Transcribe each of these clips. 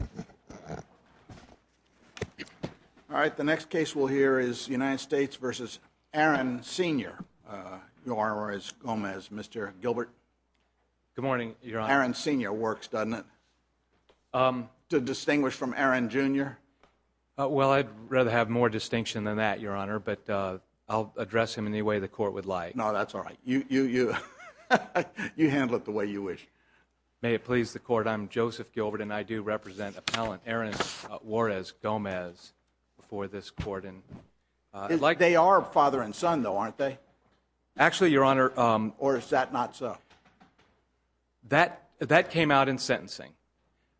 All right, the next case we'll hear is United States v. Aaron Sr., Juarez-Gomez. Mr. Gilbert? Good morning, Your Honor. Aaron Sr. works, doesn't it? To distinguish from Aaron Jr.? Well, I'd rather have more distinction than that, Your Honor, but I'll address him any way the Court would like. No, that's all right. You handle it the way you wish. May it please the Court, I'm Joseph Gilbert, and I do represent Appellant Aaron Juarez-Gomez before this Court. They are father and son, though, aren't they? Actually, Your Honor – Or is that not so? That came out in sentencing.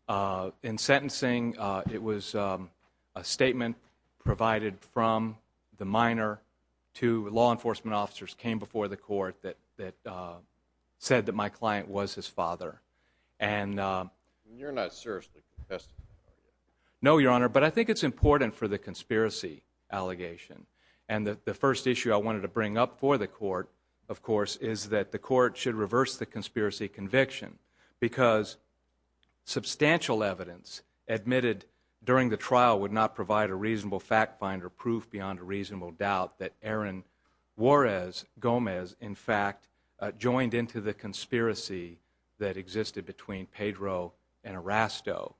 In sentencing, it was a statement provided from the minor. Two law enforcement officers came before the Court that said that my client was his father. And – You're not seriously confessing, are you? No, Your Honor, but I think it's important for the conspiracy allegation. And the first issue I wanted to bring up for the Court, of course, is that the Court should reverse the conspiracy conviction because substantial evidence admitted during the trial would not provide a reasonable fact-finder proof beyond a reasonable doubt that Aaron Juarez-Gomez, in fact, joined into the conspiracy that existed between Pedro and Erasto,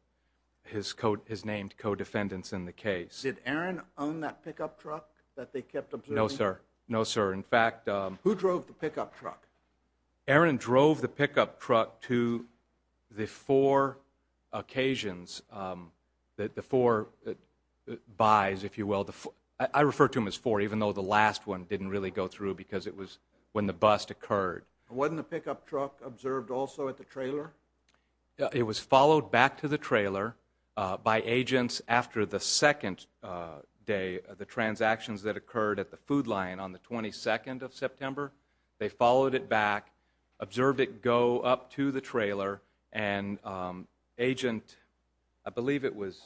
his named co-defendants in the case. Did Aaron own that pickup truck that they kept observing? No, sir. No, sir. In fact – Who drove the pickup truck? Aaron drove the pickup truck to the four occasions – the four buys, if you will. I refer to them as four, even though the last one didn't really go through because it was when the bust occurred. Wasn't the pickup truck observed also at the trailer? It was followed back to the trailer by agents after the second day of the transactions that occurred at the food line on the 22nd of September. They followed it back, observed it go up to the trailer, and Agent – I believe it was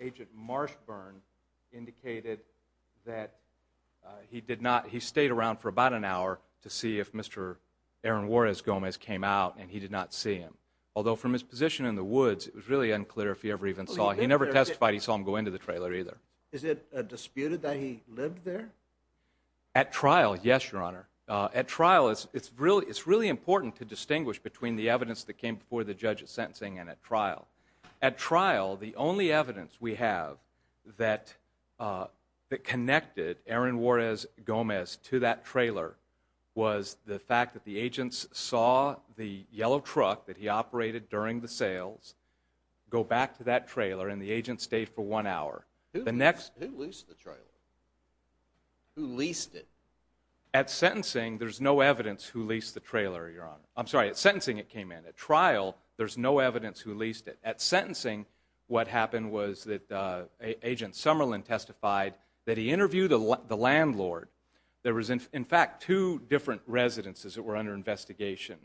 Agent Marshburn – indicated that he did not – he stayed around for about an hour to see if Mr. Aaron Juarez-Gomez came out, and he did not see him. Although, from his position in the woods, it was really unclear if he ever even saw him. He never testified he saw him go into the trailer, either. Is it disputed that he lived there? At trial, yes, Your Honor. At trial, it's really important to distinguish between the evidence that came before the judge's sentencing and at trial. At trial, the only evidence we have that connected Aaron Juarez-Gomez to that trailer was the fact that the agents saw the yellow truck that he operated during the sales go back to that trailer, and the agent stayed for one hour. Who leased the trailer? Who leased it? At sentencing, there's no evidence who leased the trailer, Your Honor. I'm sorry, at sentencing it came in. At trial, there's no evidence who leased it. At sentencing, what happened was that Agent Summerlin testified that he interviewed the landlord. There was, in fact, two different residences that were under investigation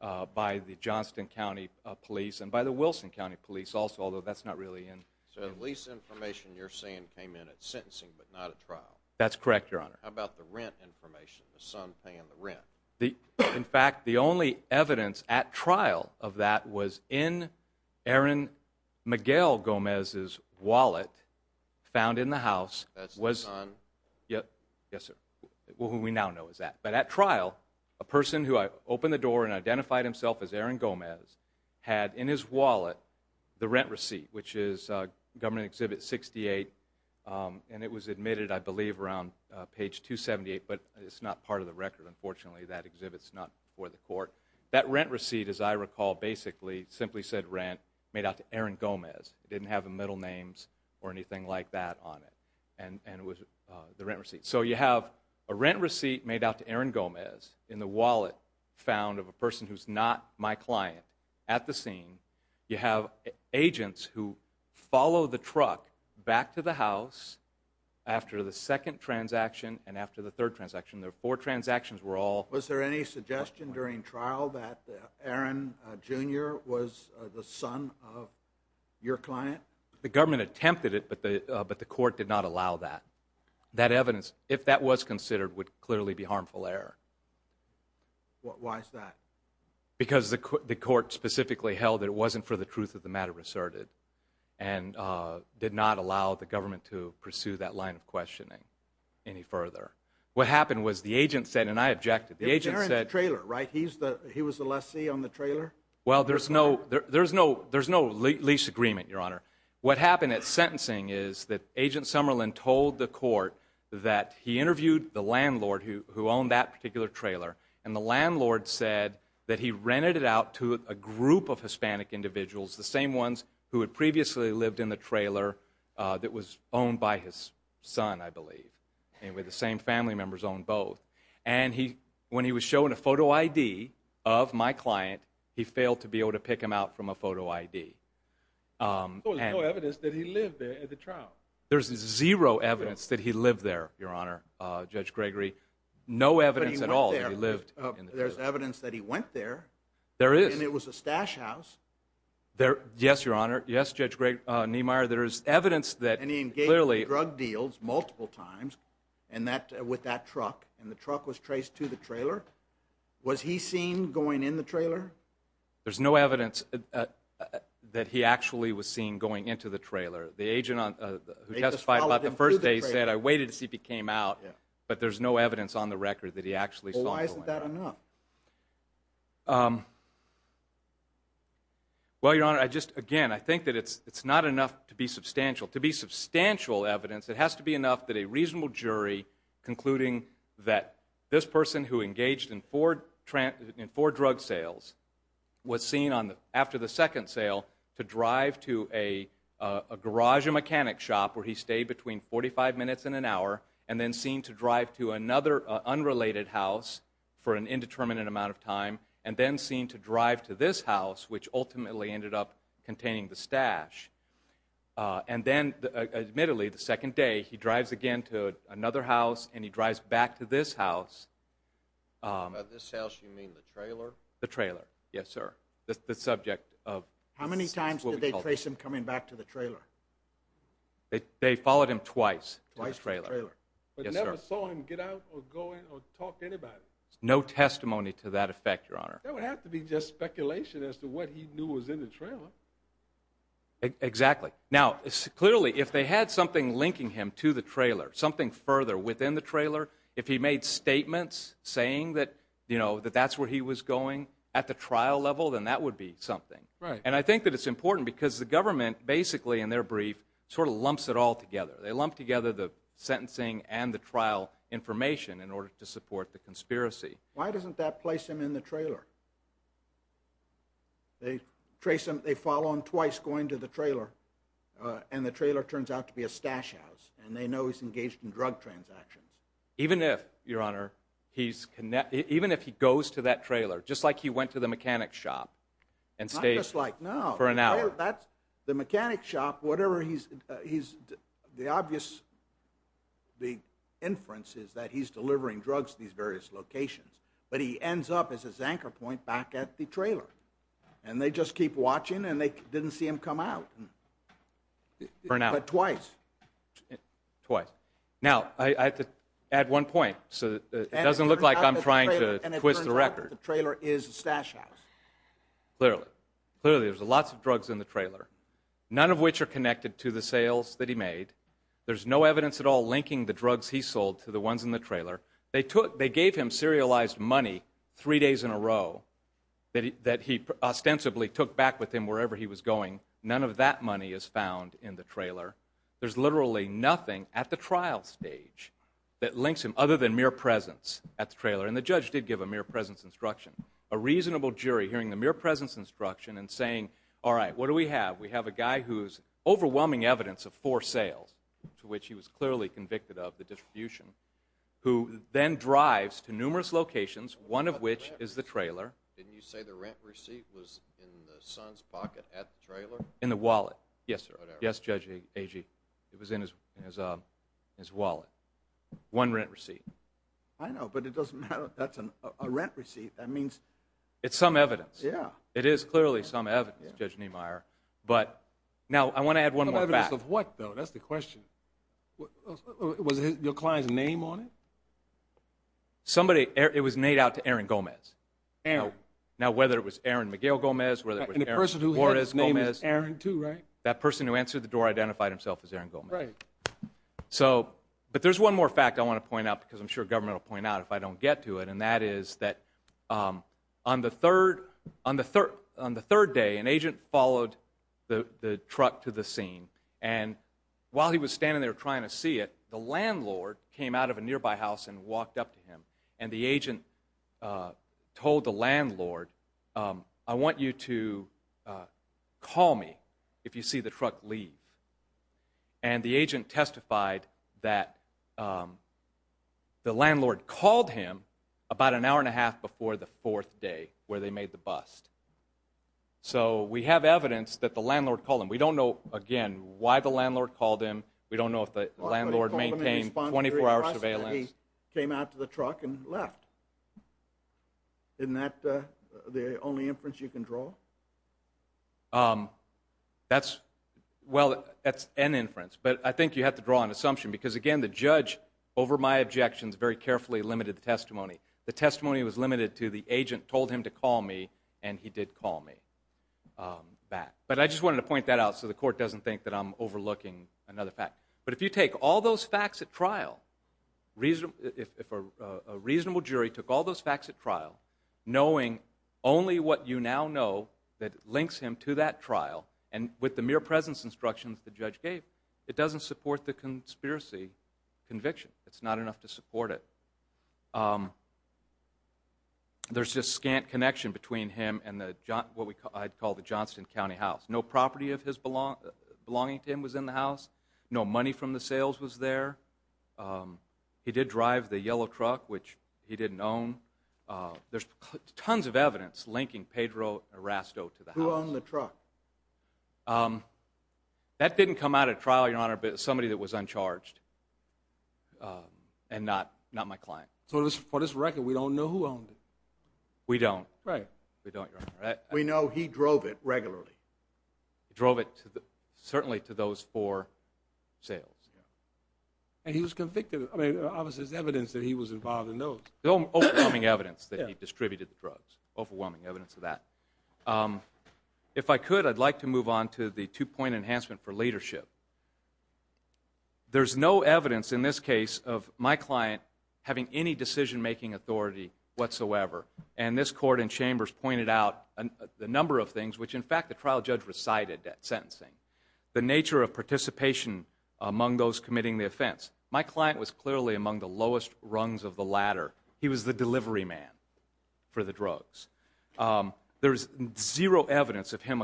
by the Johnston County Police and by the Wilson County Police also, although that's not really in. So the lease information you're saying came in at sentencing but not at trial. That's correct, Your Honor. How about the rent information, the son paying the rent? In fact, the only evidence at trial of that was in Aaron Miguel-Gomez's wallet found in the house. That's the son? Yes, sir, who we now know is that. But at trial, a person who opened the door and identified himself as Aaron Gomez had in his wallet the rent receipt, which is Government Exhibit 68, and it was admitted, I believe, around page 278, but it's not part of the record, unfortunately. That exhibit's not before the court. That rent receipt, as I recall, basically simply said rent made out to Aaron Gomez. It didn't have middle names or anything like that on it, and it was the rent receipt. So you have a rent receipt made out to Aaron Gomez in the wallet found of a person who's not my client at the scene. You have agents who follow the truck back to the house after the second transaction and after the third transaction. There were four transactions. Was there any suggestion during trial that Aaron Jr. was the son of your client? The government attempted it, but the court did not allow that. That evidence, if that was considered, would clearly be harmful error. Why is that? Because the court specifically held that it wasn't for the truth of the matter asserted and did not allow the government to pursue that line of questioning any further. What happened was the agent said, and I objected, the agent said— Aaron's trailer, right? He was the lessee on the trailer? Well, there's no lease agreement, Your Honor. What happened at sentencing is that Agent Summerlin told the court that he interviewed the landlord who owned that particular trailer, and the landlord said that he rented it out to a group of Hispanic individuals, the same ones who had previously lived in the trailer that was owned by his son, I believe, and where the same family members owned both. And when he was shown a photo ID of my client, he failed to be able to pick him out from a photo ID. So there's no evidence that he lived there at the trial? There's zero evidence that he lived there, Your Honor, Judge Gregory. No evidence at all that he lived in the trailer. But he went there. There's evidence that he went there. There is. And it was a stash house. Yes, Your Honor. Yes, Judge Niemeyer, there is evidence that— And he engaged in drug deals multiple times with that truck, and the truck was traced to the trailer. Was he seen going in the trailer? There's no evidence that he actually was seen going into the trailer. The agent who testified about the first day said, I waited to see if he came out, but there's no evidence on the record that he actually saw him going out. Well, why isn't that enough? Well, Your Honor, I just—again, I think that it's not enough to be substantial. To be substantial evidence, it has to be enough that a reasonable jury concluding that this person who engaged in four drug sales was seen after the second sale to drive to a garage and mechanic shop where he stayed between 45 minutes and an hour, and then seen to drive to another unrelated house for an indeterminate amount of time, and then seen to drive to this house, which ultimately ended up containing the stash. And then, admittedly, the second day, he drives again to another house, and he drives back to this house. By this house, you mean the trailer? The trailer, yes, sir. The subject of what we call— How many times did they trace him coming back to the trailer? They followed him twice to the trailer. Twice to the trailer. Yes, sir. But never saw him get out or go in or talk to anybody? No testimony to that effect, Your Honor. That would have to be just speculation as to what he knew was in the trailer. Exactly. Now, clearly, if they had something linking him to the trailer, something further within the trailer, if he made statements saying that, you know, that that's where he was going at the trial level, then that would be something. Right. And I think that it's important because the government basically, in their brief, sort of lumps it all together. They lump together the sentencing and the trial information in order to support the conspiracy. Why doesn't that place him in the trailer? They trace him—they follow him twice going to the trailer, and the trailer turns out to be a stash house, and they know he's engaged in drug transactions. Even if, Your Honor, he's—even if he goes to that trailer, just like he went to the mechanic's shop and stays— For an hour. The mechanic's shop, whatever he's—the obvious big inference is that he's delivering drugs to these various locations, but he ends up as his anchor point back at the trailer. And they just keep watching, and they didn't see him come out. For an hour. Twice. Twice. Now, I have to add one point so that it doesn't look like I'm trying to twist the record. And it turns out that the trailer is a stash house. Clearly. Clearly, there's lots of drugs in the trailer, none of which are connected to the sales that he made. There's no evidence at all linking the drugs he sold to the ones in the trailer. They took—they gave him serialized money three days in a row that he ostensibly took back with him wherever he was going. None of that money is found in the trailer. There's literally nothing at the trial stage that links him other than mere presence at the trailer. And the judge did give a mere presence instruction. A reasonable jury hearing the mere presence instruction and saying, all right, what do we have? We have a guy who's overwhelming evidence of four sales, to which he was clearly convicted of the distribution, who then drives to numerous locations, one of which is the trailer. Didn't you say the rent receipt was in the son's pocket at the trailer? In the wallet. Yes, sir. Yes, Judge Agee. It was in his wallet. One rent receipt. I know, but it doesn't matter. That's a rent receipt. That means— It's some evidence. Yeah. It is clearly some evidence, Judge Niemeyer. But now I want to add one more fact. Evidence of what, though? That's the question. Was your client's name on it? Somebody—it was made out to Aaron Gomez. Aaron. Now, whether it was Aaron Miguel Gomez, whether it was Aaron Flores Gomez— And the person who had his name is Aaron, too, right? That person who answered the door identified himself as Aaron Gomez. Right. So—but there's one more fact I want to point out because I'm sure government will point out if I don't get to it, and that is that on the third day, an agent followed the truck to the scene. And while he was standing there trying to see it, the landlord came out of a nearby house and walked up to him. And the agent told the landlord, I want you to call me if you see the truck leave. And the agent testified that the landlord called him about an hour and a half before the fourth day where they made the bust. So we have evidence that the landlord called him. We don't know, again, why the landlord called him. We don't know if the landlord maintained 24-hour surveillance. He came out to the truck and left. Isn't that the only inference you can draw? That's—well, that's an inference, but I think you have to draw an assumption because, again, the judge, over my objections, very carefully limited the testimony. The testimony was limited to the agent told him to call me, and he did call me back. But I just wanted to point that out so the court doesn't think that I'm overlooking another fact. But if you take all those facts at trial, if a reasonable jury took all those facts at trial, knowing only what you now know that links him to that trial, and with the mere presence instructions the judge gave, it doesn't support the conspiracy conviction. It's not enough to support it. There's just scant connection between him and what I'd call the Johnston County house. No property of his belonging to him was in the house. No money from the sales was there. He did drive the yellow truck, which he didn't own. There's tons of evidence linking Pedro Erasto to the house. Who owned the truck? That didn't come out at trial, Your Honor, but somebody that was uncharged and not my client. So for this record, we don't know who owned it. We don't. Right. We don't, Your Honor. We know he drove it regularly. He drove it certainly to those four sales. And he was convicted. I mean, obviously there's evidence that he was involved in those. Overwhelming evidence that he distributed the drugs. Overwhelming evidence of that. If I could, I'd like to move on to the two-point enhancement for leadership. There's no evidence in this case of my client having any decision-making authority whatsoever, and this Court in Chambers pointed out a number of things, which, in fact, the trial judge recited at sentencing. The nature of participation among those committing the offense. My client was clearly among the lowest rungs of the ladder. He was the delivery man for the drugs. There's zero evidence of him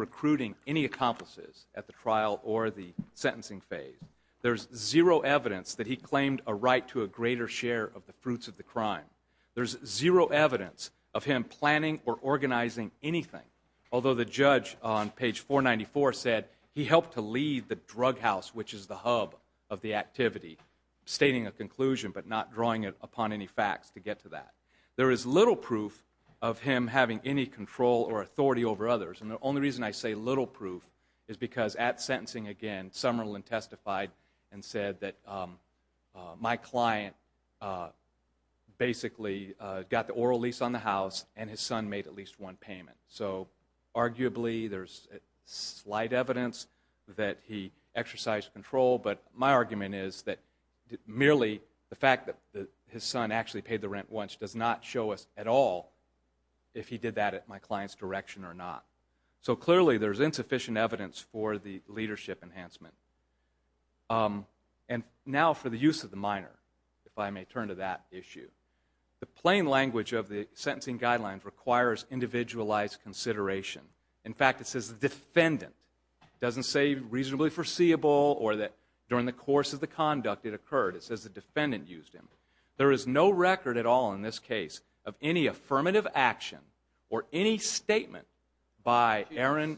recruiting any accomplices at the trial or the sentencing phase. There's zero evidence that he claimed a right to a greater share of the fruits of the crime. There's zero evidence of him planning or organizing anything, although the judge on page 494 said he helped to lead the drug house, which is the hub of the activity, stating a conclusion but not drawing it upon any facts to get to that. There is little proof of him having any control or authority over others, and the only reason I say little proof is because at sentencing, again, and said that my client basically got the oral lease on the house and his son made at least one payment. So arguably there's slight evidence that he exercised control, but my argument is that merely the fact that his son actually paid the rent once does not show us at all if he did that at my client's direction or not. So clearly there's insufficient evidence for the leadership enhancement. And now for the use of the minor, if I may turn to that issue. The plain language of the sentencing guidelines requires individualized consideration. In fact, it says the defendant. It doesn't say reasonably foreseeable or that during the course of the conduct it occurred. It says the defendant used him. There is no record at all in this case of any affirmative action or any statement by Aaron.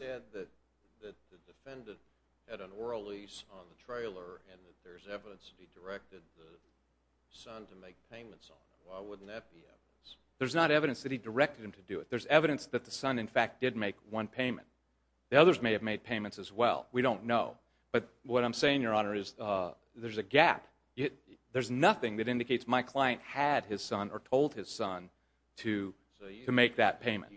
There's not evidence that he directed him to do it. There's evidence that the son, in fact, did make one payment. The others may have made payments as well. We don't know. But what I'm saying, Your Honor, is there's a gap. There's nothing that indicates my client had his son or told his son to make that payment.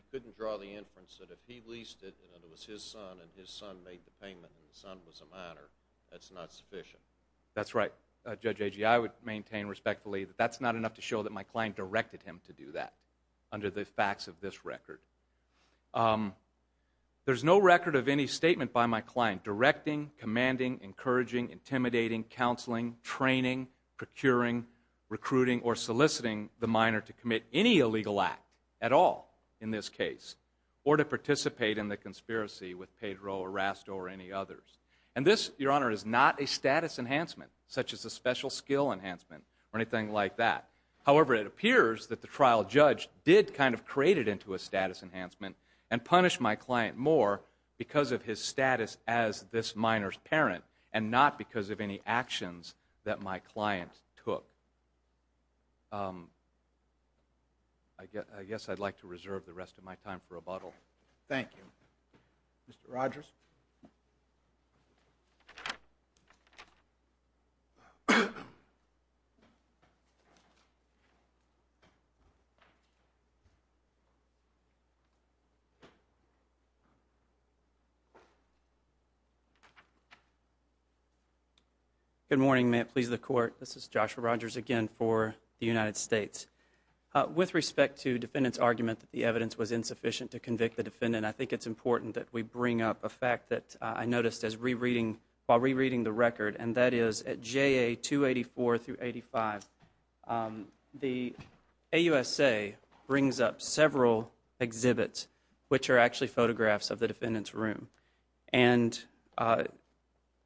That's right, Judge Agee. I would maintain respectfully that that's not enough to show that my client directed him to do that under the facts of this record. There's no record of any statement by my client directing, commanding, encouraging, intimidating, counseling, training, procuring, recruiting, or soliciting the minor to commit any illegal act at all in this case or to participate in the conspiracy with Pedro or Rasto or any others. And this, Your Honor, is not a status enhancement such as a special skill enhancement or anything like that. However, it appears that the trial judge did kind of create it into a status enhancement and not because of any actions that my client took. I guess I'd like to reserve the rest of my time for rebuttal. Thank you. Mr. Rogers? Good morning. May it please the Court. This is Joshua Rogers again for the United States. With respect to defendant's argument that the evidence was insufficient to convict the defendant, I think it's important that we bring up a fact that I noticed while rereading the record, and that is at JA 284 through 85, the AUSA brings up several exhibits, which are actually photographs of the defendant's room. And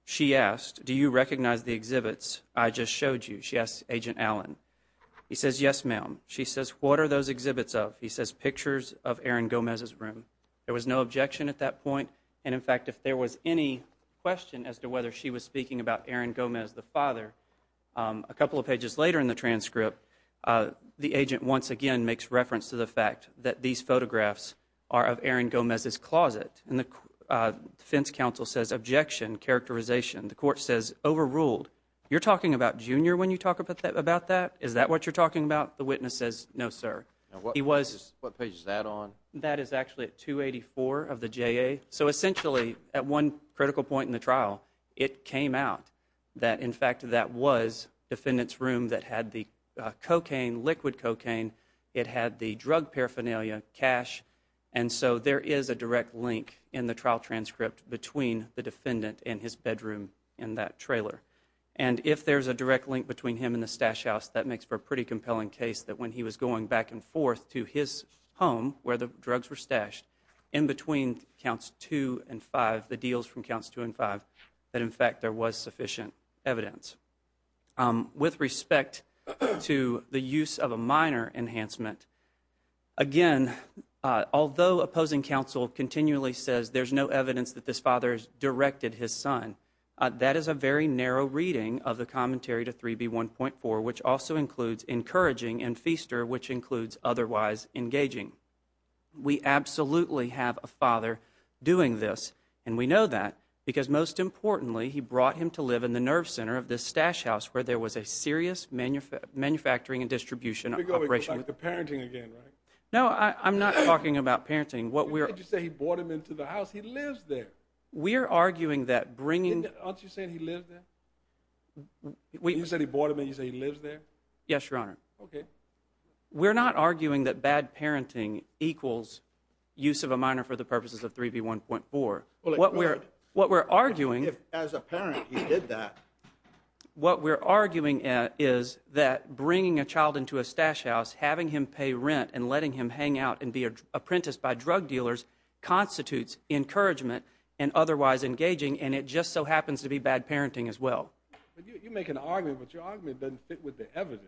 she asked, Do you recognize the exhibits I just showed you? She asked Agent Allen. He says, Yes, ma'am. She says, What are those exhibits of? He says, Pictures of Aaron Gomez's room. There was no objection at that point. And, in fact, if there was any question as to whether she was speaking about Aaron Gomez, the father, a couple of pages later in the transcript, the agent once again makes reference to the fact that these photographs are of Aaron Gomez's closet. And the defense counsel says, Objection. Characterization. The court says, Overruled. You're talking about Junior when you talk about that? Is that what you're talking about? The witness says, No, sir. What page is that on? That is actually at 284 of the JA. So, essentially, at one critical point in the trial, it came out that, in fact, that was defendant's room that had the cocaine, liquid cocaine. It had the drug paraphernalia, cash. And so there is a direct link in the trial transcript between the defendant and his bedroom in that trailer. And if there's a direct link between him and the stash house, that makes for a pretty compelling case that when he was going back and forth to his home where the drugs were stashed, in between counts two and five, the deals from counts two and five, that, in fact, there was sufficient evidence. With respect to the use of a minor enhancement, again, although opposing counsel continually says there's no evidence that this father has directed his son, that is a very narrow reading of the commentary to 3B1.4, which also includes encouraging and feaster, which includes otherwise engaging. We absolutely have a father doing this, and we know that because, most importantly, he brought him to live in the nerve center of this stash house where there was a serious manufacturing and distribution operation. You're going to go back to parenting again, right? No, I'm not talking about parenting. You said he brought him into the house. He lives there. We're arguing that bringing— Aren't you saying he lived there? You said he brought him in. You say he lives there? Yes, Your Honor. Okay. We're not arguing that bad parenting equals use of a minor for the purposes of 3B1.4. What we're arguing— As a parent, he did that. What we're arguing is that bringing a child into a stash house, having him pay rent, and letting him hang out and be apprenticed by drug dealers constitutes encouragement and otherwise engaging, and it just so happens to be bad parenting as well. You make an argument, but your argument doesn't fit with the evidence.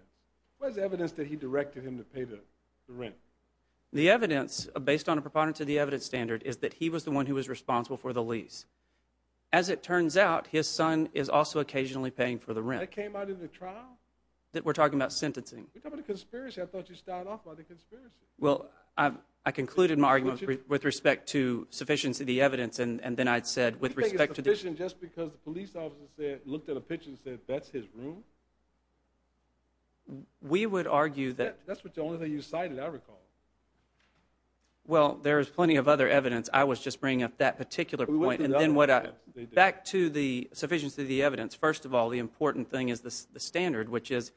Where's the evidence that he directed him to pay the rent? The evidence, based on a preponderance of the evidence standard, is that he was the one who was responsible for the lease. As it turns out, his son is also occasionally paying for the rent. That came out in the trial? We're talking about sentencing. We're talking about a conspiracy. I thought you started off by the conspiracy. Well, I concluded my argument with respect to sufficiency of the evidence, and then I said with respect to the— You think it's sufficient just because the police officer looked at a picture and said, that's his room? We would argue that— That's the only thing you cited, I recall. Well, there is plenty of other evidence. I was just bringing up that particular point. Back to the sufficiency of the evidence. First of all, the important thing is the standard, which is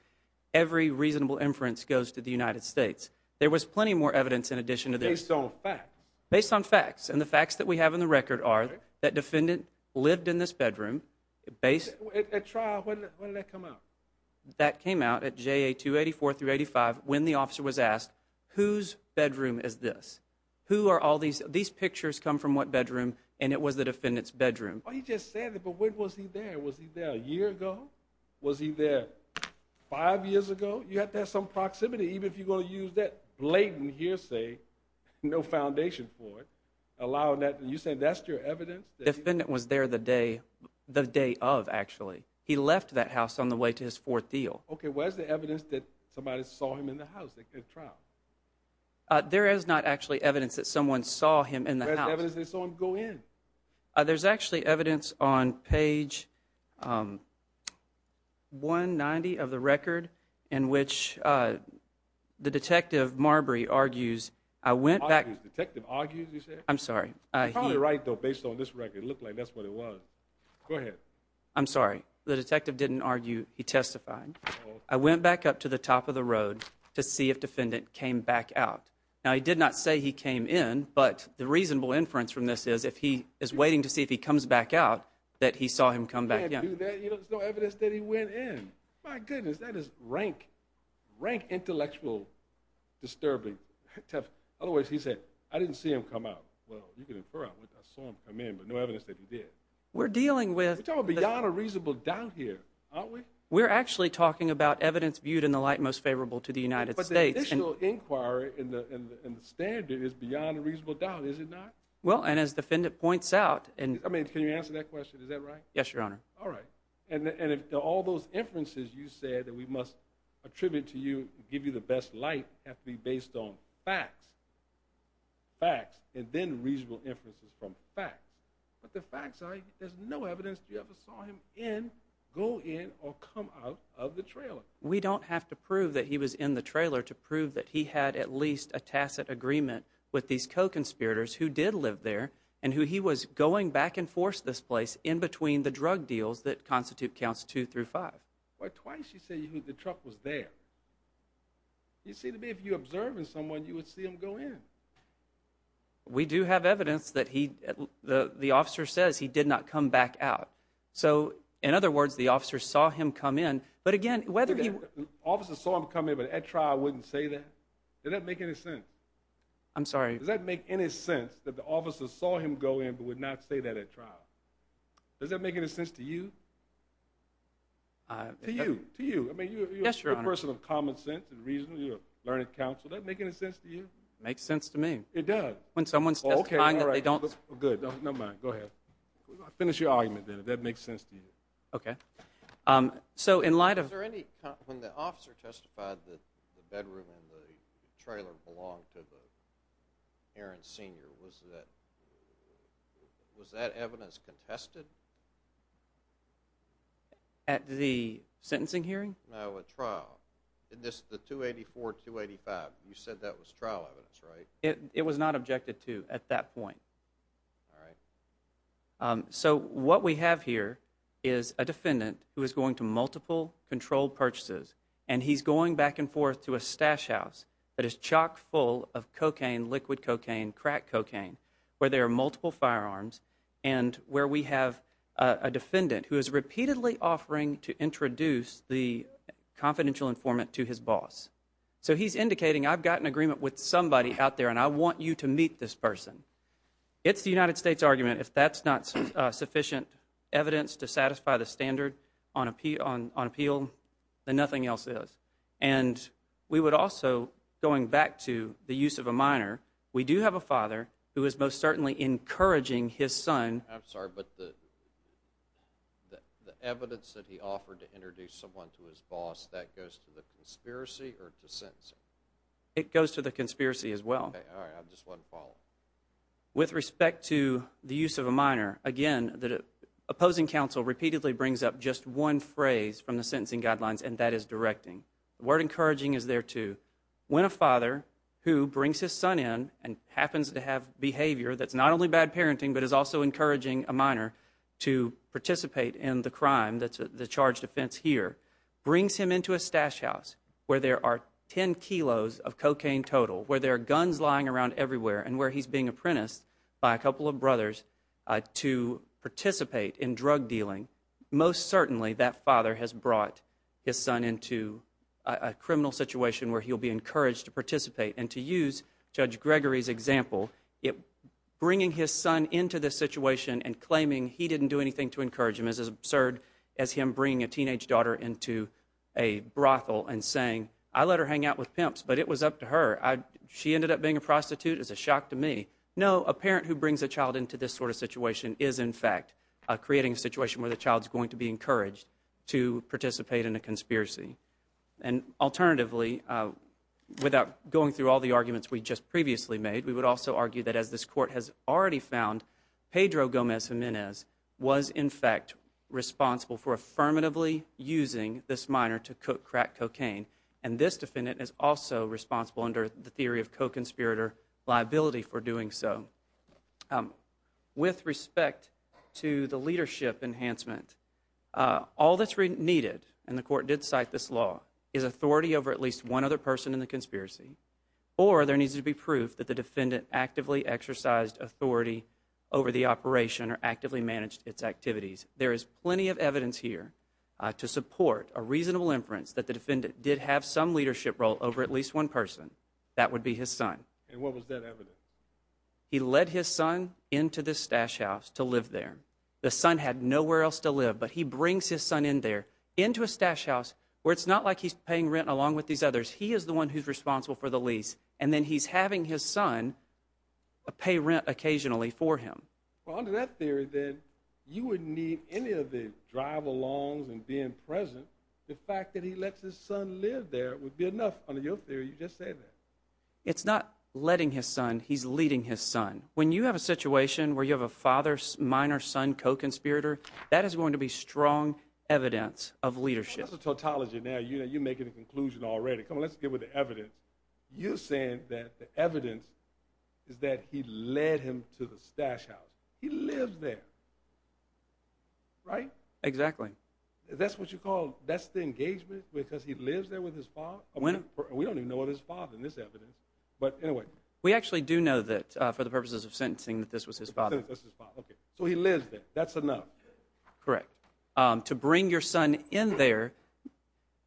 every reasonable inference goes to the United States. There was plenty more evidence in addition to this. Based on facts. Based on facts. And the facts that we have in the record are that defendant lived in this bedroom. At trial, when did that come out? That came out at JA 284 through 85 when the officer was asked, whose bedroom is this? Who are all these? These pictures come from what bedroom? And it was the defendant's bedroom. He just said it, but when was he there? Was he there a year ago? Was he there five years ago? You have to have some proximity, even if you're going to use that blatant hearsay, no foundation for it, allowing that. You're saying that's your evidence? The defendant was there the day of, actually. He left that house on the way to his fourth deal. Okay, where's the evidence that somebody saw him in the house at trial? There is not actually evidence that someone saw him in the house. Where's the evidence they saw him go in? There's actually evidence on page 190 of the record, in which the detective, Marbury, argues, I went back. Argues? Detective argues, you said? I'm sorry. You're probably right, though, based on this record. It looked like that's what it was. Go ahead. I'm sorry. The detective didn't argue. He testified. I went back up to the top of the road to see if defendant came back out. Now, he did not say he came in, but the reasonable inference from this is if he is waiting to see if he comes back out, that he saw him come back in. You can't do that. There's no evidence that he went in. My goodness, that is rank intellectual disturbing. In other words, he said, I didn't see him come out. Well, you can infer, I saw him come in, but no evidence that he did. We're dealing with. We're talking beyond a reasonable doubt here, aren't we? We're actually talking about evidence viewed in the light most favorable to the United States. But the initial inquiry and the standard is beyond a reasonable doubt, is it not? Well, and as the defendant points out. I mean, can you answer that question? Is that right? Yes, Your Honor. All right. And if all those inferences you said that we must attribute to you, give you the best light, have to be based on facts, facts, and then reasonable inferences from facts. But the facts are, there's no evidence you ever saw him in, go in, or come out of the trailer. We don't have to prove that he was in the trailer to prove that he had at least a tacit agreement with these co-conspirators who did live there and who he was going back and forth this place in between the drug deals that constitute counts two through five. Twice you said the truck was there. You seem to me if you're observing someone, you would see them go in. We do have evidence that the officer says he did not come back out. So, in other words, the officer saw him come in. But, again, whether he – The officer saw him come in but at trial wouldn't say that? Does that make any sense? I'm sorry. Does that make any sense that the officer saw him go in but would not say that at trial? Does that make any sense to you? To you. To you. Yes, Your Honor. I mean, you're a person of common sense and reason, you're a learned counsel. Does that make any sense to you? It makes sense to me. It does. When someone's testifying that they don't – Okay. All right. Good. Never mind. Go ahead. Finish your argument then if that makes sense to you. Okay. So in light of – Was there any – when the officer testified that the bedroom and the trailer belonged to the Aaron Sr., was that evidence contested? At the sentencing hearing? No, at trial. In this, the 284-285, you said that was trial evidence, right? It was not objected to at that point. All right. So what we have here is a defendant who is going to multiple controlled purchases and he's going back and forth to a stash house that is chock full of cocaine, liquid cocaine, crack cocaine, where there are multiple firearms, and where we have a defendant who is repeatedly offering to his boss. So he's indicating, I've got an agreement with somebody out there and I want you to meet this person. It's the United States argument if that's not sufficient evidence to satisfy the standard on appeal, then nothing else is. And we would also, going back to the use of a minor, we do have a father who is most certainly encouraging his son – I'm sorry, but the evidence that he offered to introduce someone to his conspiracy or to sentencing? It goes to the conspiracy as well. All right. I have just one follow-up. With respect to the use of a minor, again, the opposing counsel repeatedly brings up just one phrase from the sentencing guidelines and that is directing. The word encouraging is there too. When a father who brings his son in and happens to have behavior that's not only bad parenting but is also encouraging a minor to participate in the crime, the charged offense here, brings him into a stash house where there are 10 kilos of cocaine total, where there are guns lying around everywhere, and where he's being apprenticed by a couple of brothers to participate in drug dealing, most certainly that father has brought his son into a criminal situation where he'll be encouraged to participate. And to use Judge Gregory's example, bringing his son into this situation and absurd as him bringing a teenage daughter into a brothel and saying, I let her hang out with pimps, but it was up to her. She ended up being a prostitute is a shock to me. No, a parent who brings a child into this sort of situation is, in fact, creating a situation where the child is going to be encouraged to participate in a conspiracy. And alternatively, without going through all the arguments we just previously made, we would also argue that as this court has already found, Pedro Gomez Jimenez was, in fact, responsible for affirmatively using this minor to cook crack cocaine, and this defendant is also responsible under the theory of co-conspirator liability for doing so. With respect to the leadership enhancement, all that's needed, and the court did cite this law, is authority over at least one other person in the conspiracy, or there needs to be proof that the defendant actively exercised authority over the operation or actively managed its activities. There is plenty of evidence here to support a reasonable inference that the defendant did have some leadership role over at least one person. That would be his son. And what was that evidence? He led his son into this stash house to live there. The son had nowhere else to live, but he brings his son in there into a stash house where it's not like he's paying rent along with these others. He is the one who's responsible for the lease, and then he's having his son pay rent occasionally for him. Well, under that theory, then, you wouldn't need any of the drive-alongs and being present. The fact that he lets his son live there would be enough. Under your theory, you just say that. It's not letting his son. He's leading his son. When you have a situation where you have a father, minor, son, co-conspirator, that is going to be strong evidence of leadership. That's a tautology now. You're making a conclusion already. Come on, let's get with the evidence. You're saying that the evidence is that he led him to the stash house. He lives there, right? Exactly. That's what you call, that's the engagement because he lives there with his father? We don't even know his father in this evidence. But anyway. We actually do know that for the purposes of sentencing that this was his father. So he lives there. That's enough. Correct. To bring your son in there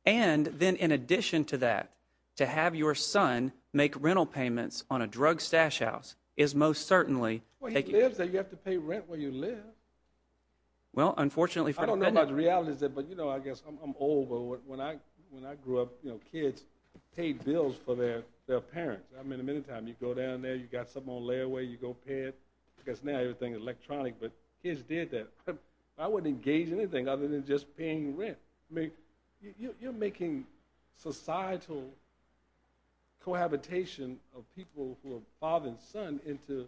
and then in addition to that, to have your son make rental payments on a drug stash house is most certainly. Well, he lives there. You have to pay rent where you live. Well, unfortunately. I don't know about the reality is that, but you know, I guess I'm old. But when I, when I grew up, you know, kids paid bills for their, their parents. I mean, the minute time you go down there you got something on layaway, you go pay it. I guess now everything is electronic, but kids did that. I wouldn't engage in anything other than just paying rent. I mean, you're making societal cohabitation of people who are father and son into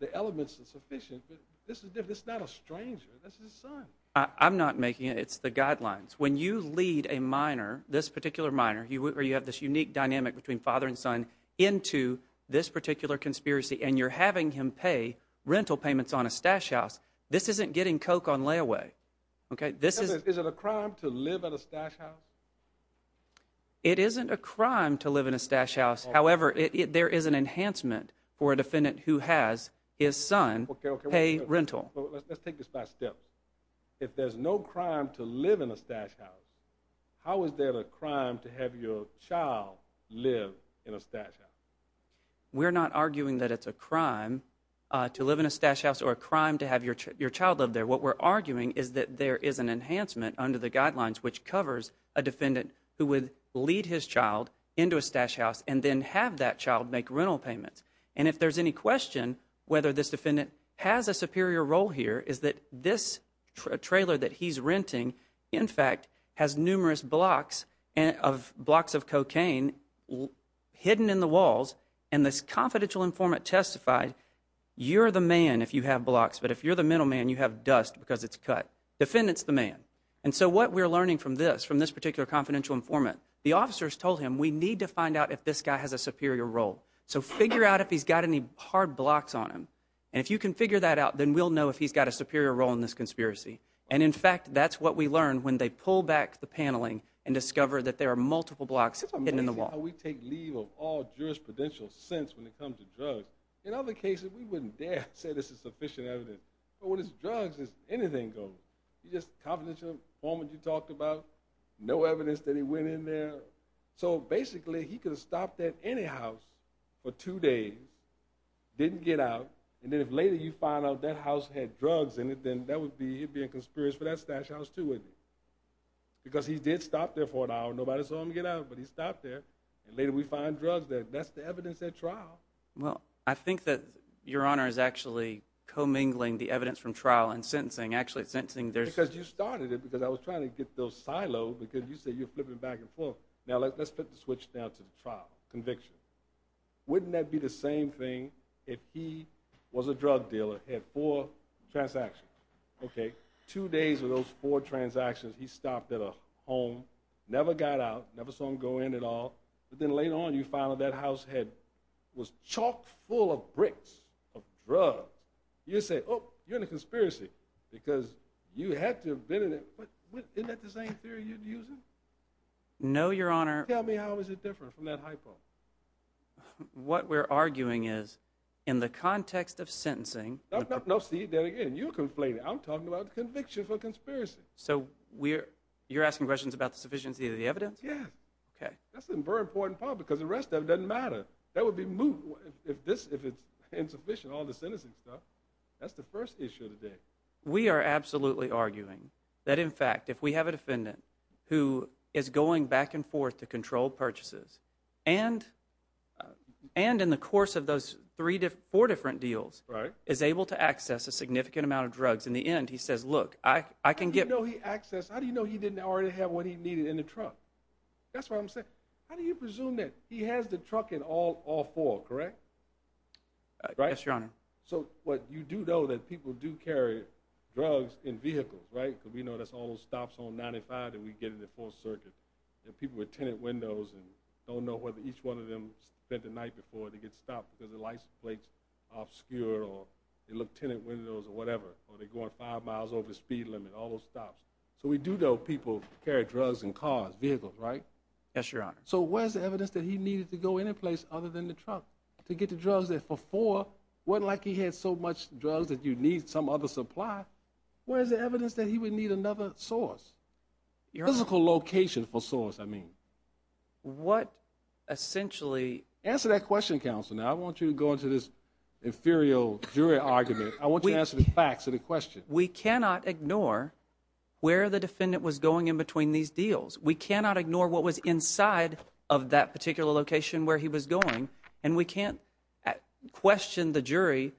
the elements of sufficient, but this is different. It's not a stranger. That's his son. I'm not making it. It's the guidelines. When you lead a minor, this particular minor, you have this unique dynamic between father and son into this particular conspiracy and you're having him pay rental payments on a stash house. This isn't getting coke on layaway. Okay. This is, is it a crime to live at a stash house? It isn't a crime to live in a stash house. However, there is an enhancement for a defendant who has his son pay rental. Let's take this by step. If there's no crime to live in a stash house, how is there a crime to have your child live in a stash house? We're not arguing that it's a crime to live in a stash house or a crime to have your, your child live there. What we're arguing is that there is an enhancement under the guidelines, which covers a defendant who would lead his child into a stash house and then have that child make rental payments. And if there's any question, whether this defendant has a superior role here is that this trailer that he's renting, in fact, has numerous blocks of blocks of cocaine hidden in the walls. And this confidential informant testified you're the man if you have blocks, but if you're the middleman, you have dust because it's cut defendants, the man. And so what we're learning from this, from this particular confidential informant, the officers told him we need to find out if this guy has a superior role. So figure out if he's got any hard blocks on him. And if you can figure that out, then we'll know if he's got a superior role in this conspiracy. And in fact, that's what we learned when they pull back the paneling and discover that there are multiple blocks hidden in the wall. We take leave of all jurisprudential sense when it comes to drugs. In other cases, we wouldn't dare say this is sufficient evidence. But when it's drugs, it's anything goes. You just confidential informant you talked about, no evidence that he went in there. So basically, he could have stopped at any house for two days, didn't get out. And then if later you find out that house had drugs in it, then that would be, he'd be in conspiracy for that stash house too, wouldn't he? Because he did stop there for an hour. Nobody saw him get out, but he stopped there. And later we find drugs there. That's the evidence at trial. Well, I think that Your Honor is actually commingling the evidence from trial and sentencing. Actually, it's sentencing. Because you started it because I was trying to get those silos because you said you're flipping back and forth. Now, let's put the switch down to the trial conviction. Wouldn't that be the same thing if he was a drug dealer, had four transactions? Okay. Two days of those four transactions, he stopped at a home, never got out, never saw him go in at all. But then later on, you find that that house was chock full of bricks of drugs. You say, oh, you're in a conspiracy because you had to have been in it. Isn't that the same theory you're using? No, Your Honor. Tell me how is it different from that hypo? What we're arguing is in the context of sentencing. No, see, then again, you're complaining. I'm talking about the conviction for conspiracy. So you're asking questions about the sufficiency of the evidence? Yes. Okay. That's a very important part because the rest of it doesn't matter. That would be moot if it's insufficient, all the sentencing stuff. That's the first issue today. We are absolutely arguing that in fact, if we have a defendant who is going back and forth to control purchases, and in the course of those four different deals, is able to access a significant amount of drugs. In the end, he says, look, I can get. How do you know he didn't already have what he needed in the trunk? That's what I'm saying. How do you presume that he has the truck in all four, correct? Yes, Your Honor. So what you do know that people do carry drugs in vehicles, right? Because we know that's all those stops on 95 that we get in the fourth circuit. There are people with tenant windows and don't know whether each one of them spent the night before they get stopped because the license plates obscure or they look tenant windows or whatever, or they go on five miles over the speed limit, all those stops. So we do know people carry drugs and cars, vehicles, right? Yes, Your Honor. So where's the evidence that he needed to go any place other than the truck to get the drugs that for four wasn't like he had so much drugs that you need some other supply. Where's the evidence that he would need another source, your physical location for source? I mean, what essentially answer that question. Counselor. Now I want you to go into this inferior jury argument. I want you to answer the facts of the question. We cannot ignore where the defendant was going in between these deals. We cannot ignore what was inside of that particular location where he was going. And we can't question the jury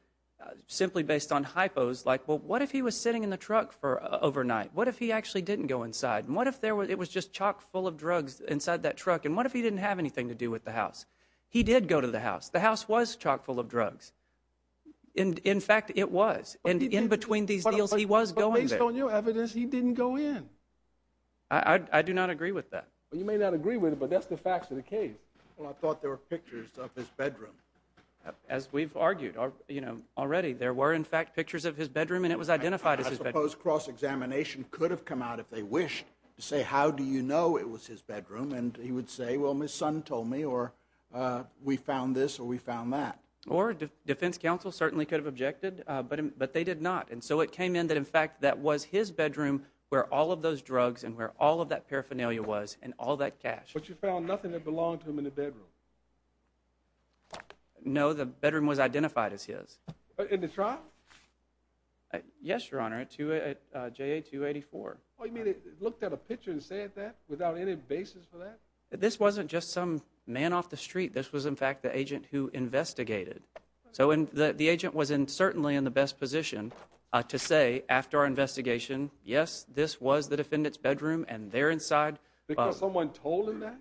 simply based on hypos. Like, well, what if he was sitting in the truck for overnight? What if he actually didn't go inside? And what if there was, it was just chock full of drugs inside that truck. And what if he didn't have anything to do with the house? He did go to the house. The house was chock full of drugs. And in fact, it was, and in between these deals, he was going on your evidence. He didn't go in. I do not agree with that. You may not agree with it, but that's the facts of the case. Well, I thought there were pictures of his bedroom. As we've argued, you know, already there were in fact pictures of his bedroom and it was identified as suppose cross-examination could have come out if they wished to say, how do you know it was his bedroom? And he would say, well, my son told me, or we found this or we found that. Or defense counsel certainly could have objected. Uh, but, but they did not. And so it came in that in fact, that was his bedroom where all of those drugs and where all of that paraphernalia was and all that cash, but you found nothing that belonged to him in the bedroom. No, the bedroom was identified as his, uh, in the truck. Uh, yes, your honor to, uh, J a two 84. Oh, you mean it looked at a picture and said that without any basis for that, that this wasn't just some man off the street. This was in fact, the agent who investigated. So in the, the agent was in certainly in the best position, uh, to say after our investigation, yes, this was the defendant's bedroom and they're inside because someone told him that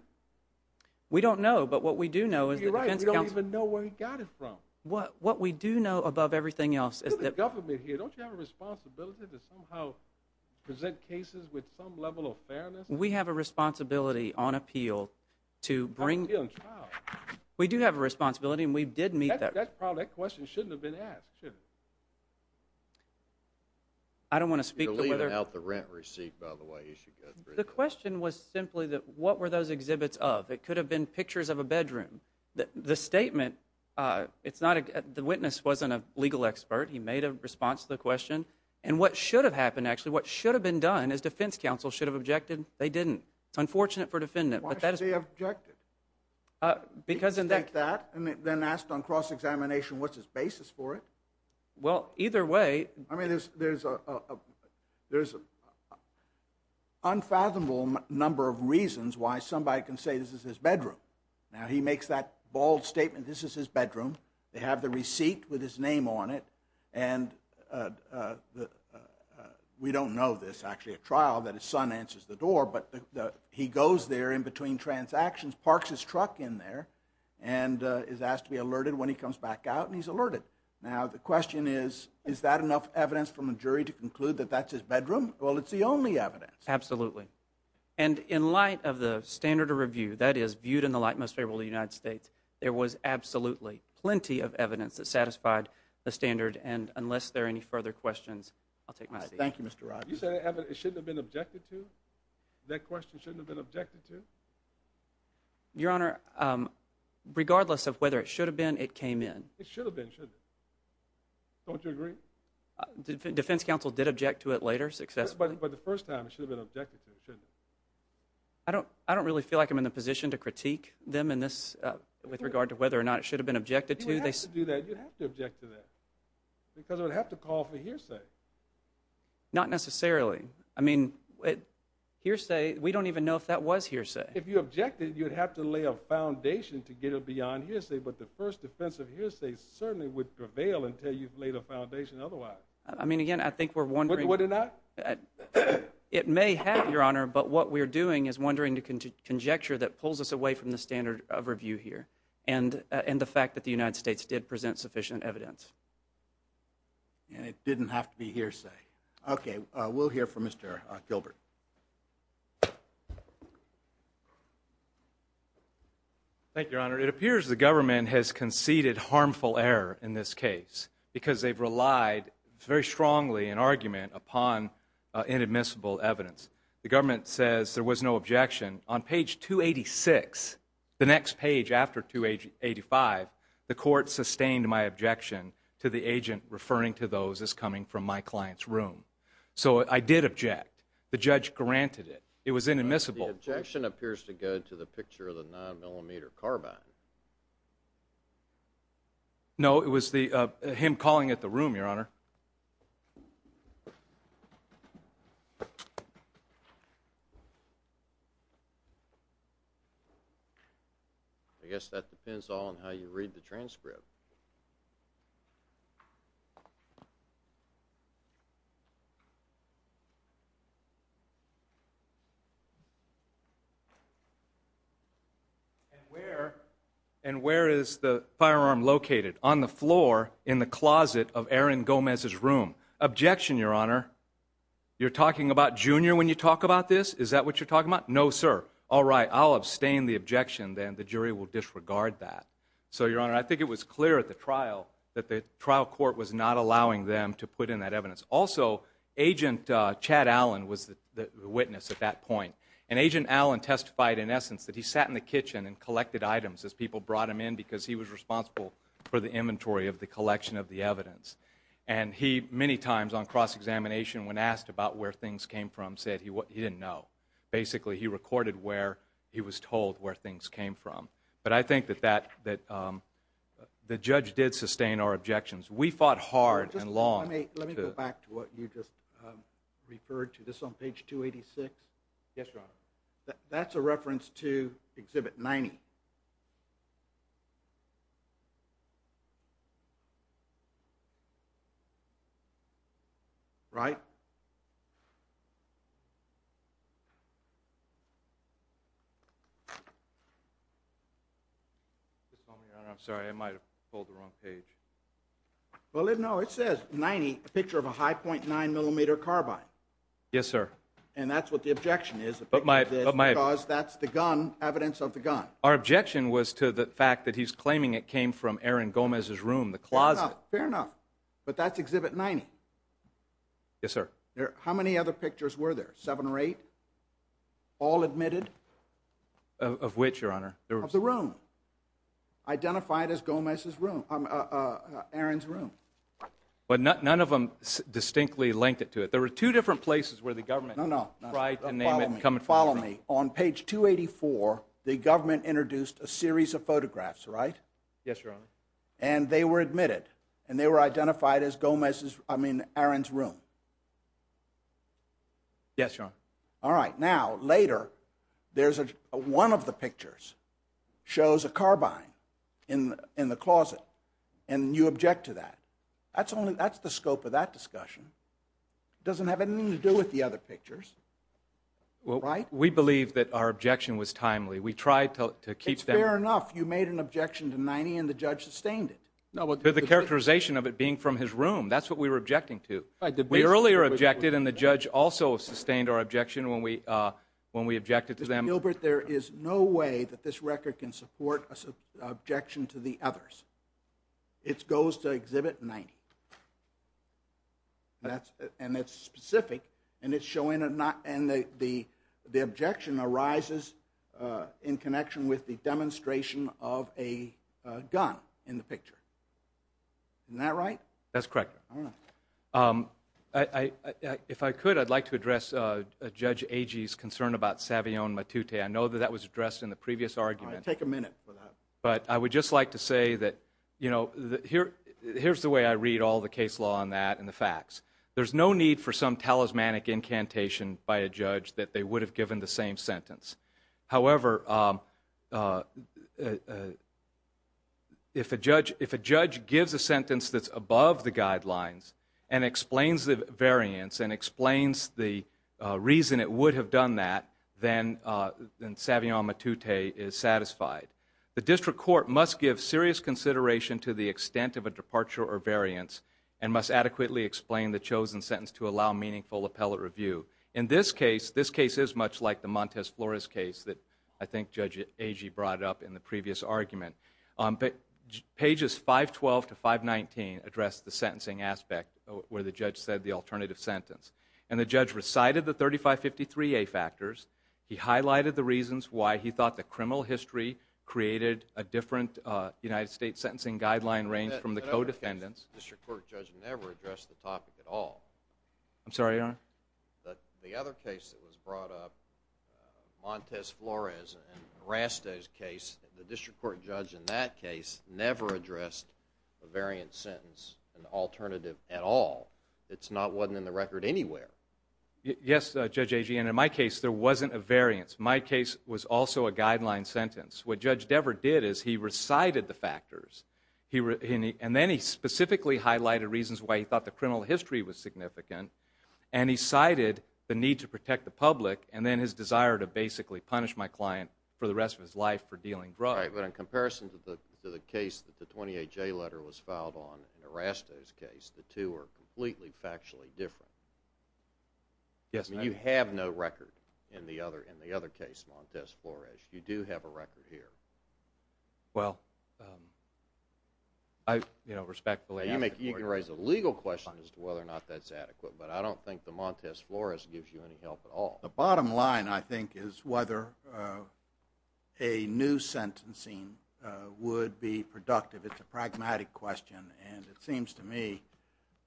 we don't know. But what we do know is you're right. We don't even know where he got it from. What, what we do know above everything else is that government here, don't you have a responsibility to somehow present cases with some level of fairness? We have a responsibility on appeal to bring we do have a responsibility and we did meet that product question. It shouldn't have been asked. I don't want to speak out the rent receipt by the way. The question was simply that what were those exhibits of? It could have been pictures of a bedroom that the statement, uh, it's not a, the witness wasn't a legal expert. He made a response to the question and what should have happened. what should have been done is defense counsel should have objected. They didn't. It's unfortunate for defendant, uh, because in that, and then asked on cross examination, what's his basis for it? Well, either way, I mean, there's, there's a, there's a unfathomable number of reasons why somebody can say this is his bedroom. Now he makes that bold statement. This is his bedroom. They have the receipt with his name on it. And, uh, uh, uh, we don't know this actually a trial that his son answers the door, but the, uh, he goes there in between transactions, parks his truck in there and, uh, is asked to be alerted when he comes back out and he's alerted. Now, the question is, is that enough evidence from a jury to conclude that that's his bedroom? Well, it's the only evidence. Absolutely. And in light of the standard of review that is viewed in the light most favorable to the United States, there was absolutely plenty of evidence that satisfied the standard. And unless there are any further questions, I'll take my seat. Thank you, Mr. Rogers. You said it shouldn't have been objected to that question. Shouldn't have been objected to your honor. Um, regardless of whether it should have been, it came in, it should have been, shouldn't it? Don't you agree? Defense counsel did object to it later success, but the first time it should have been objected to. It shouldn't. I don't, I don't really feel like I'm in the position to critique them in this, uh, with regard to whether or not it should have been objected to do that. You have to object to that because it would have to call for hearsay. Not necessarily. I mean, it hearsay. We don't even know if that was hearsay. If you objected, you'd have to lay a foundation to get it beyond hearsay. But the first defensive hearsay certainly would prevail until you've laid a foundation. Otherwise, I mean, again, I think we're wondering, would it not? It may have your honor, but what we're doing is wondering to conjecture that pulls us away from the standard of review here and, uh, and the fact that the United States did present sufficient evidence and it didn't have to be hearsay. Okay. Uh, we'll hear from Mr Gilbert. Thank you, your honor. It appears the government has conceded harmful error in this case because they've relied very strongly in argument upon, uh, inadmissible evidence. The government says there was no objection on page two 86, the next page after two age 85, the court sustained my objection to the agent referring to those as coming from my client's room. So I did object. The judge granted it. It was inadmissible. Objection appears to go to the picture of the nine millimeter carbine. No, it was the, uh, him calling it the room, your honor. I guess that depends all on how you read the transcript. Okay. And where, and where is the firearm located on the floor in the closet of Aaron Gomez's room? Objection, your honor. You're talking about junior when you talk about this, is that what you're talking about? No, sir. All right, I'll abstain the objection. Then the jury will disregard that. So your honor, I think it was clear at the trial that the trial court was not allowing them to put in that evidence. Also agent, uh, Chad Allen was the witness at that point and agent Allen testified in essence that he sat in the kitchen and collected items as people brought him in because he was responsible for the inventory of the collection of the evidence. And he, many times on cross-examination when asked about where things came from, said he, he didn't know basically he recorded where he was told where things came from. But I think that that, that, um, the judge did sustain our objections. We fought hard and long. Let me, let me go back to what you just, um, referred to this on page two 86. Yes, your honor. That's a reference to exhibit 90 right? I'm sorry. I might've pulled the wrong page. Well, no, it says 90, a picture of a high 0.9 millimeter carbine. Yes, sir. And that's what the objection is. But my, my cause, that's the gun evidence of the gun. Our objection was to the fact that he's claiming it came from Aaron Gomez's room, the closet. Fair enough. But that's exhibit 90. Yes, sir. How many other pictures were there? Seven or eight all admitted of, of which your honor of the room identified as Gomez's room. Aaron's room. But none, none of them distinctly linked it to it. There were two different places where the government, no, no. Right. And name it. Come and follow me on page two 84. The government introduced a series of photographs, right? Yes, your honor. And they were admitted and they were identified as Gomez's. I mean, Aaron's room. Yes, your honor. All right. Now later there's a, one of the pictures shows a carbine in, in the closet and you object to that. That's only, that's the scope of that discussion. It doesn't have anything to do with the other pictures. Well, right. We believe that our objection was timely. We tried to keep that enough. You made an objection to 90 and the judge sustained it. No, but the characterization of it being from his room, that's what we were objecting to. We earlier objected and the judge also sustained our objection when we, uh, when we objected to them, Gilbert, there is no way that this record can support us objection to the others. It's goes to exhibit 90 that's, and it's specific and it's showing it not. And the, the, the objection arises, uh, in connection with the demonstration of a, uh, gun in the picture. Isn't that right? That's correct. Um, I, I, I, if I could, I'd like to address, uh, uh, judge Agee's concern about Savion Matute. I know that that was addressed in the previous argument. I take a minute for that, but I would just like to say that, you know, here, here's the way I read all the case law on that. And the facts, there's no need for some talismanic incantation by a judge that they would have given the same sentence. However, um, uh, uh, uh, if a judge, if a judge gives a sentence that's above the guidelines and explains the variance and explains the, uh, reason it would have done that, then, uh, then Savion Matute is satisfied. The district court must give serious consideration to the extent of a departure or variance and must adequately explain the chosen sentence to allow meaningful appellate review. In this case, this case is much like the Montez Flores case that I think judge Agee brought up in the previous argument. Um, but pages 512 to 519 address the sentencing aspect where the judge said the alternative sentence. And the judge recited the 3553A factors. He highlighted the reasons why he thought the criminal history created a different, uh, United States sentencing guideline range from the co-defendants. The district court judge never addressed the topic at all. I'm sorry, Your Honor? The other case that was brought up, uh, Montez Flores and Raste's case, the district court judge in that case never addressed the variance sentence, an alternative at all. It's not, wasn't in the record anywhere. Yes, Judge Agee. And in my case, there wasn't a variance. My case was also a guideline sentence. What judge Dever did is he recited the factors. He, and then he specifically highlighted reasons why he thought the criminal history was significant. And he cited the need to protect the public. And then his desire to basically punish my client for the rest of his life for dealing drugs. But in comparison to the, to the case that the 28J letter was filed on and Raste's case, the two are completely factually different. Yes. I mean, you have no record in the other, in the other case, Montez Flores, you do have a record here. Well, um, I, you know, respectfully. You make, you can raise a legal question as to whether or not that's adequate, but I don't think the Montez Flores gives you any help at all. The bottom line I think is whether, uh, a new sentencing, uh, would be productive. It's a pragmatic question. And, and it seems to me,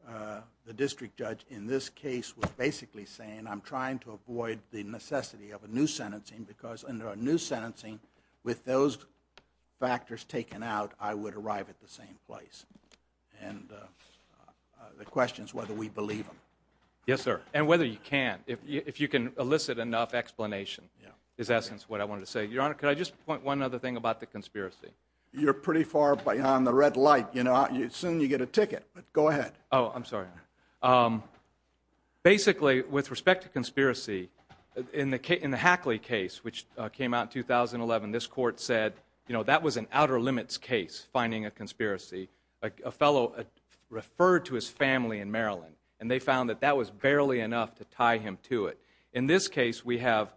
uh, the district judge in this case was basically saying, I'm trying to avoid the necessity of a new sentencing because under a new sentencing with those factors taken out, I would arrive at the same place. And, uh, uh, the question is whether we believe them. Yes, sir. And whether you can, if you, if you can elicit enough explanation. Yeah. Is essence what I wanted to say. Your Honor, could I just point one other thing about the conspiracy? You're pretty far behind the red light, you know, soon you get a ticket, but go ahead. Oh, I'm sorry. Um, basically with respect to conspiracy in the, in the Hackley case, which, uh, came out in 2011, this court said, you know, that was an outer limits case, finding a conspiracy, like a fellow, uh, referred to his family in Maryland. And they found that that was barely enough to tie him to it. In this case, we have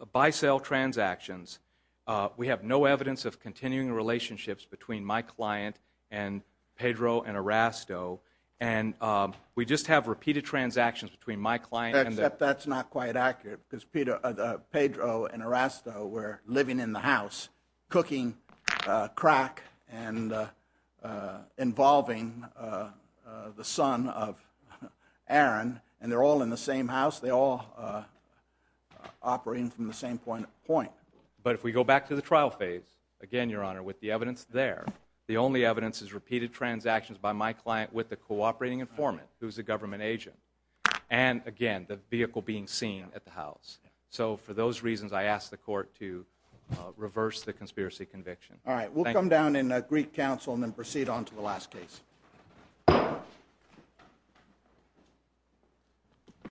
a buy, sell transactions. Uh, we have no evidence of continuing relationships between my client and Pedro and Arasto. And, um, we just have repeated transactions between my client. Except that's not quite accurate because Peter, uh, Pedro and Arasto were living in the house cooking, uh, crack and, uh, uh, involving, uh, uh, the son of Aaron. And they're all in the same house. They all, uh, uh, operating from the same point of point. But if we go back to the trial phase, again, Your Honor, with the evidence there, the only evidence is repeated transactions by my client with the cooperating informant, who's a government agent. And, again, the vehicle being seen at the house. So, for those reasons, I ask the court to, uh, reverse the conspiracy conviction. All right, we'll come down in a Greek council and then proceed on to the last case.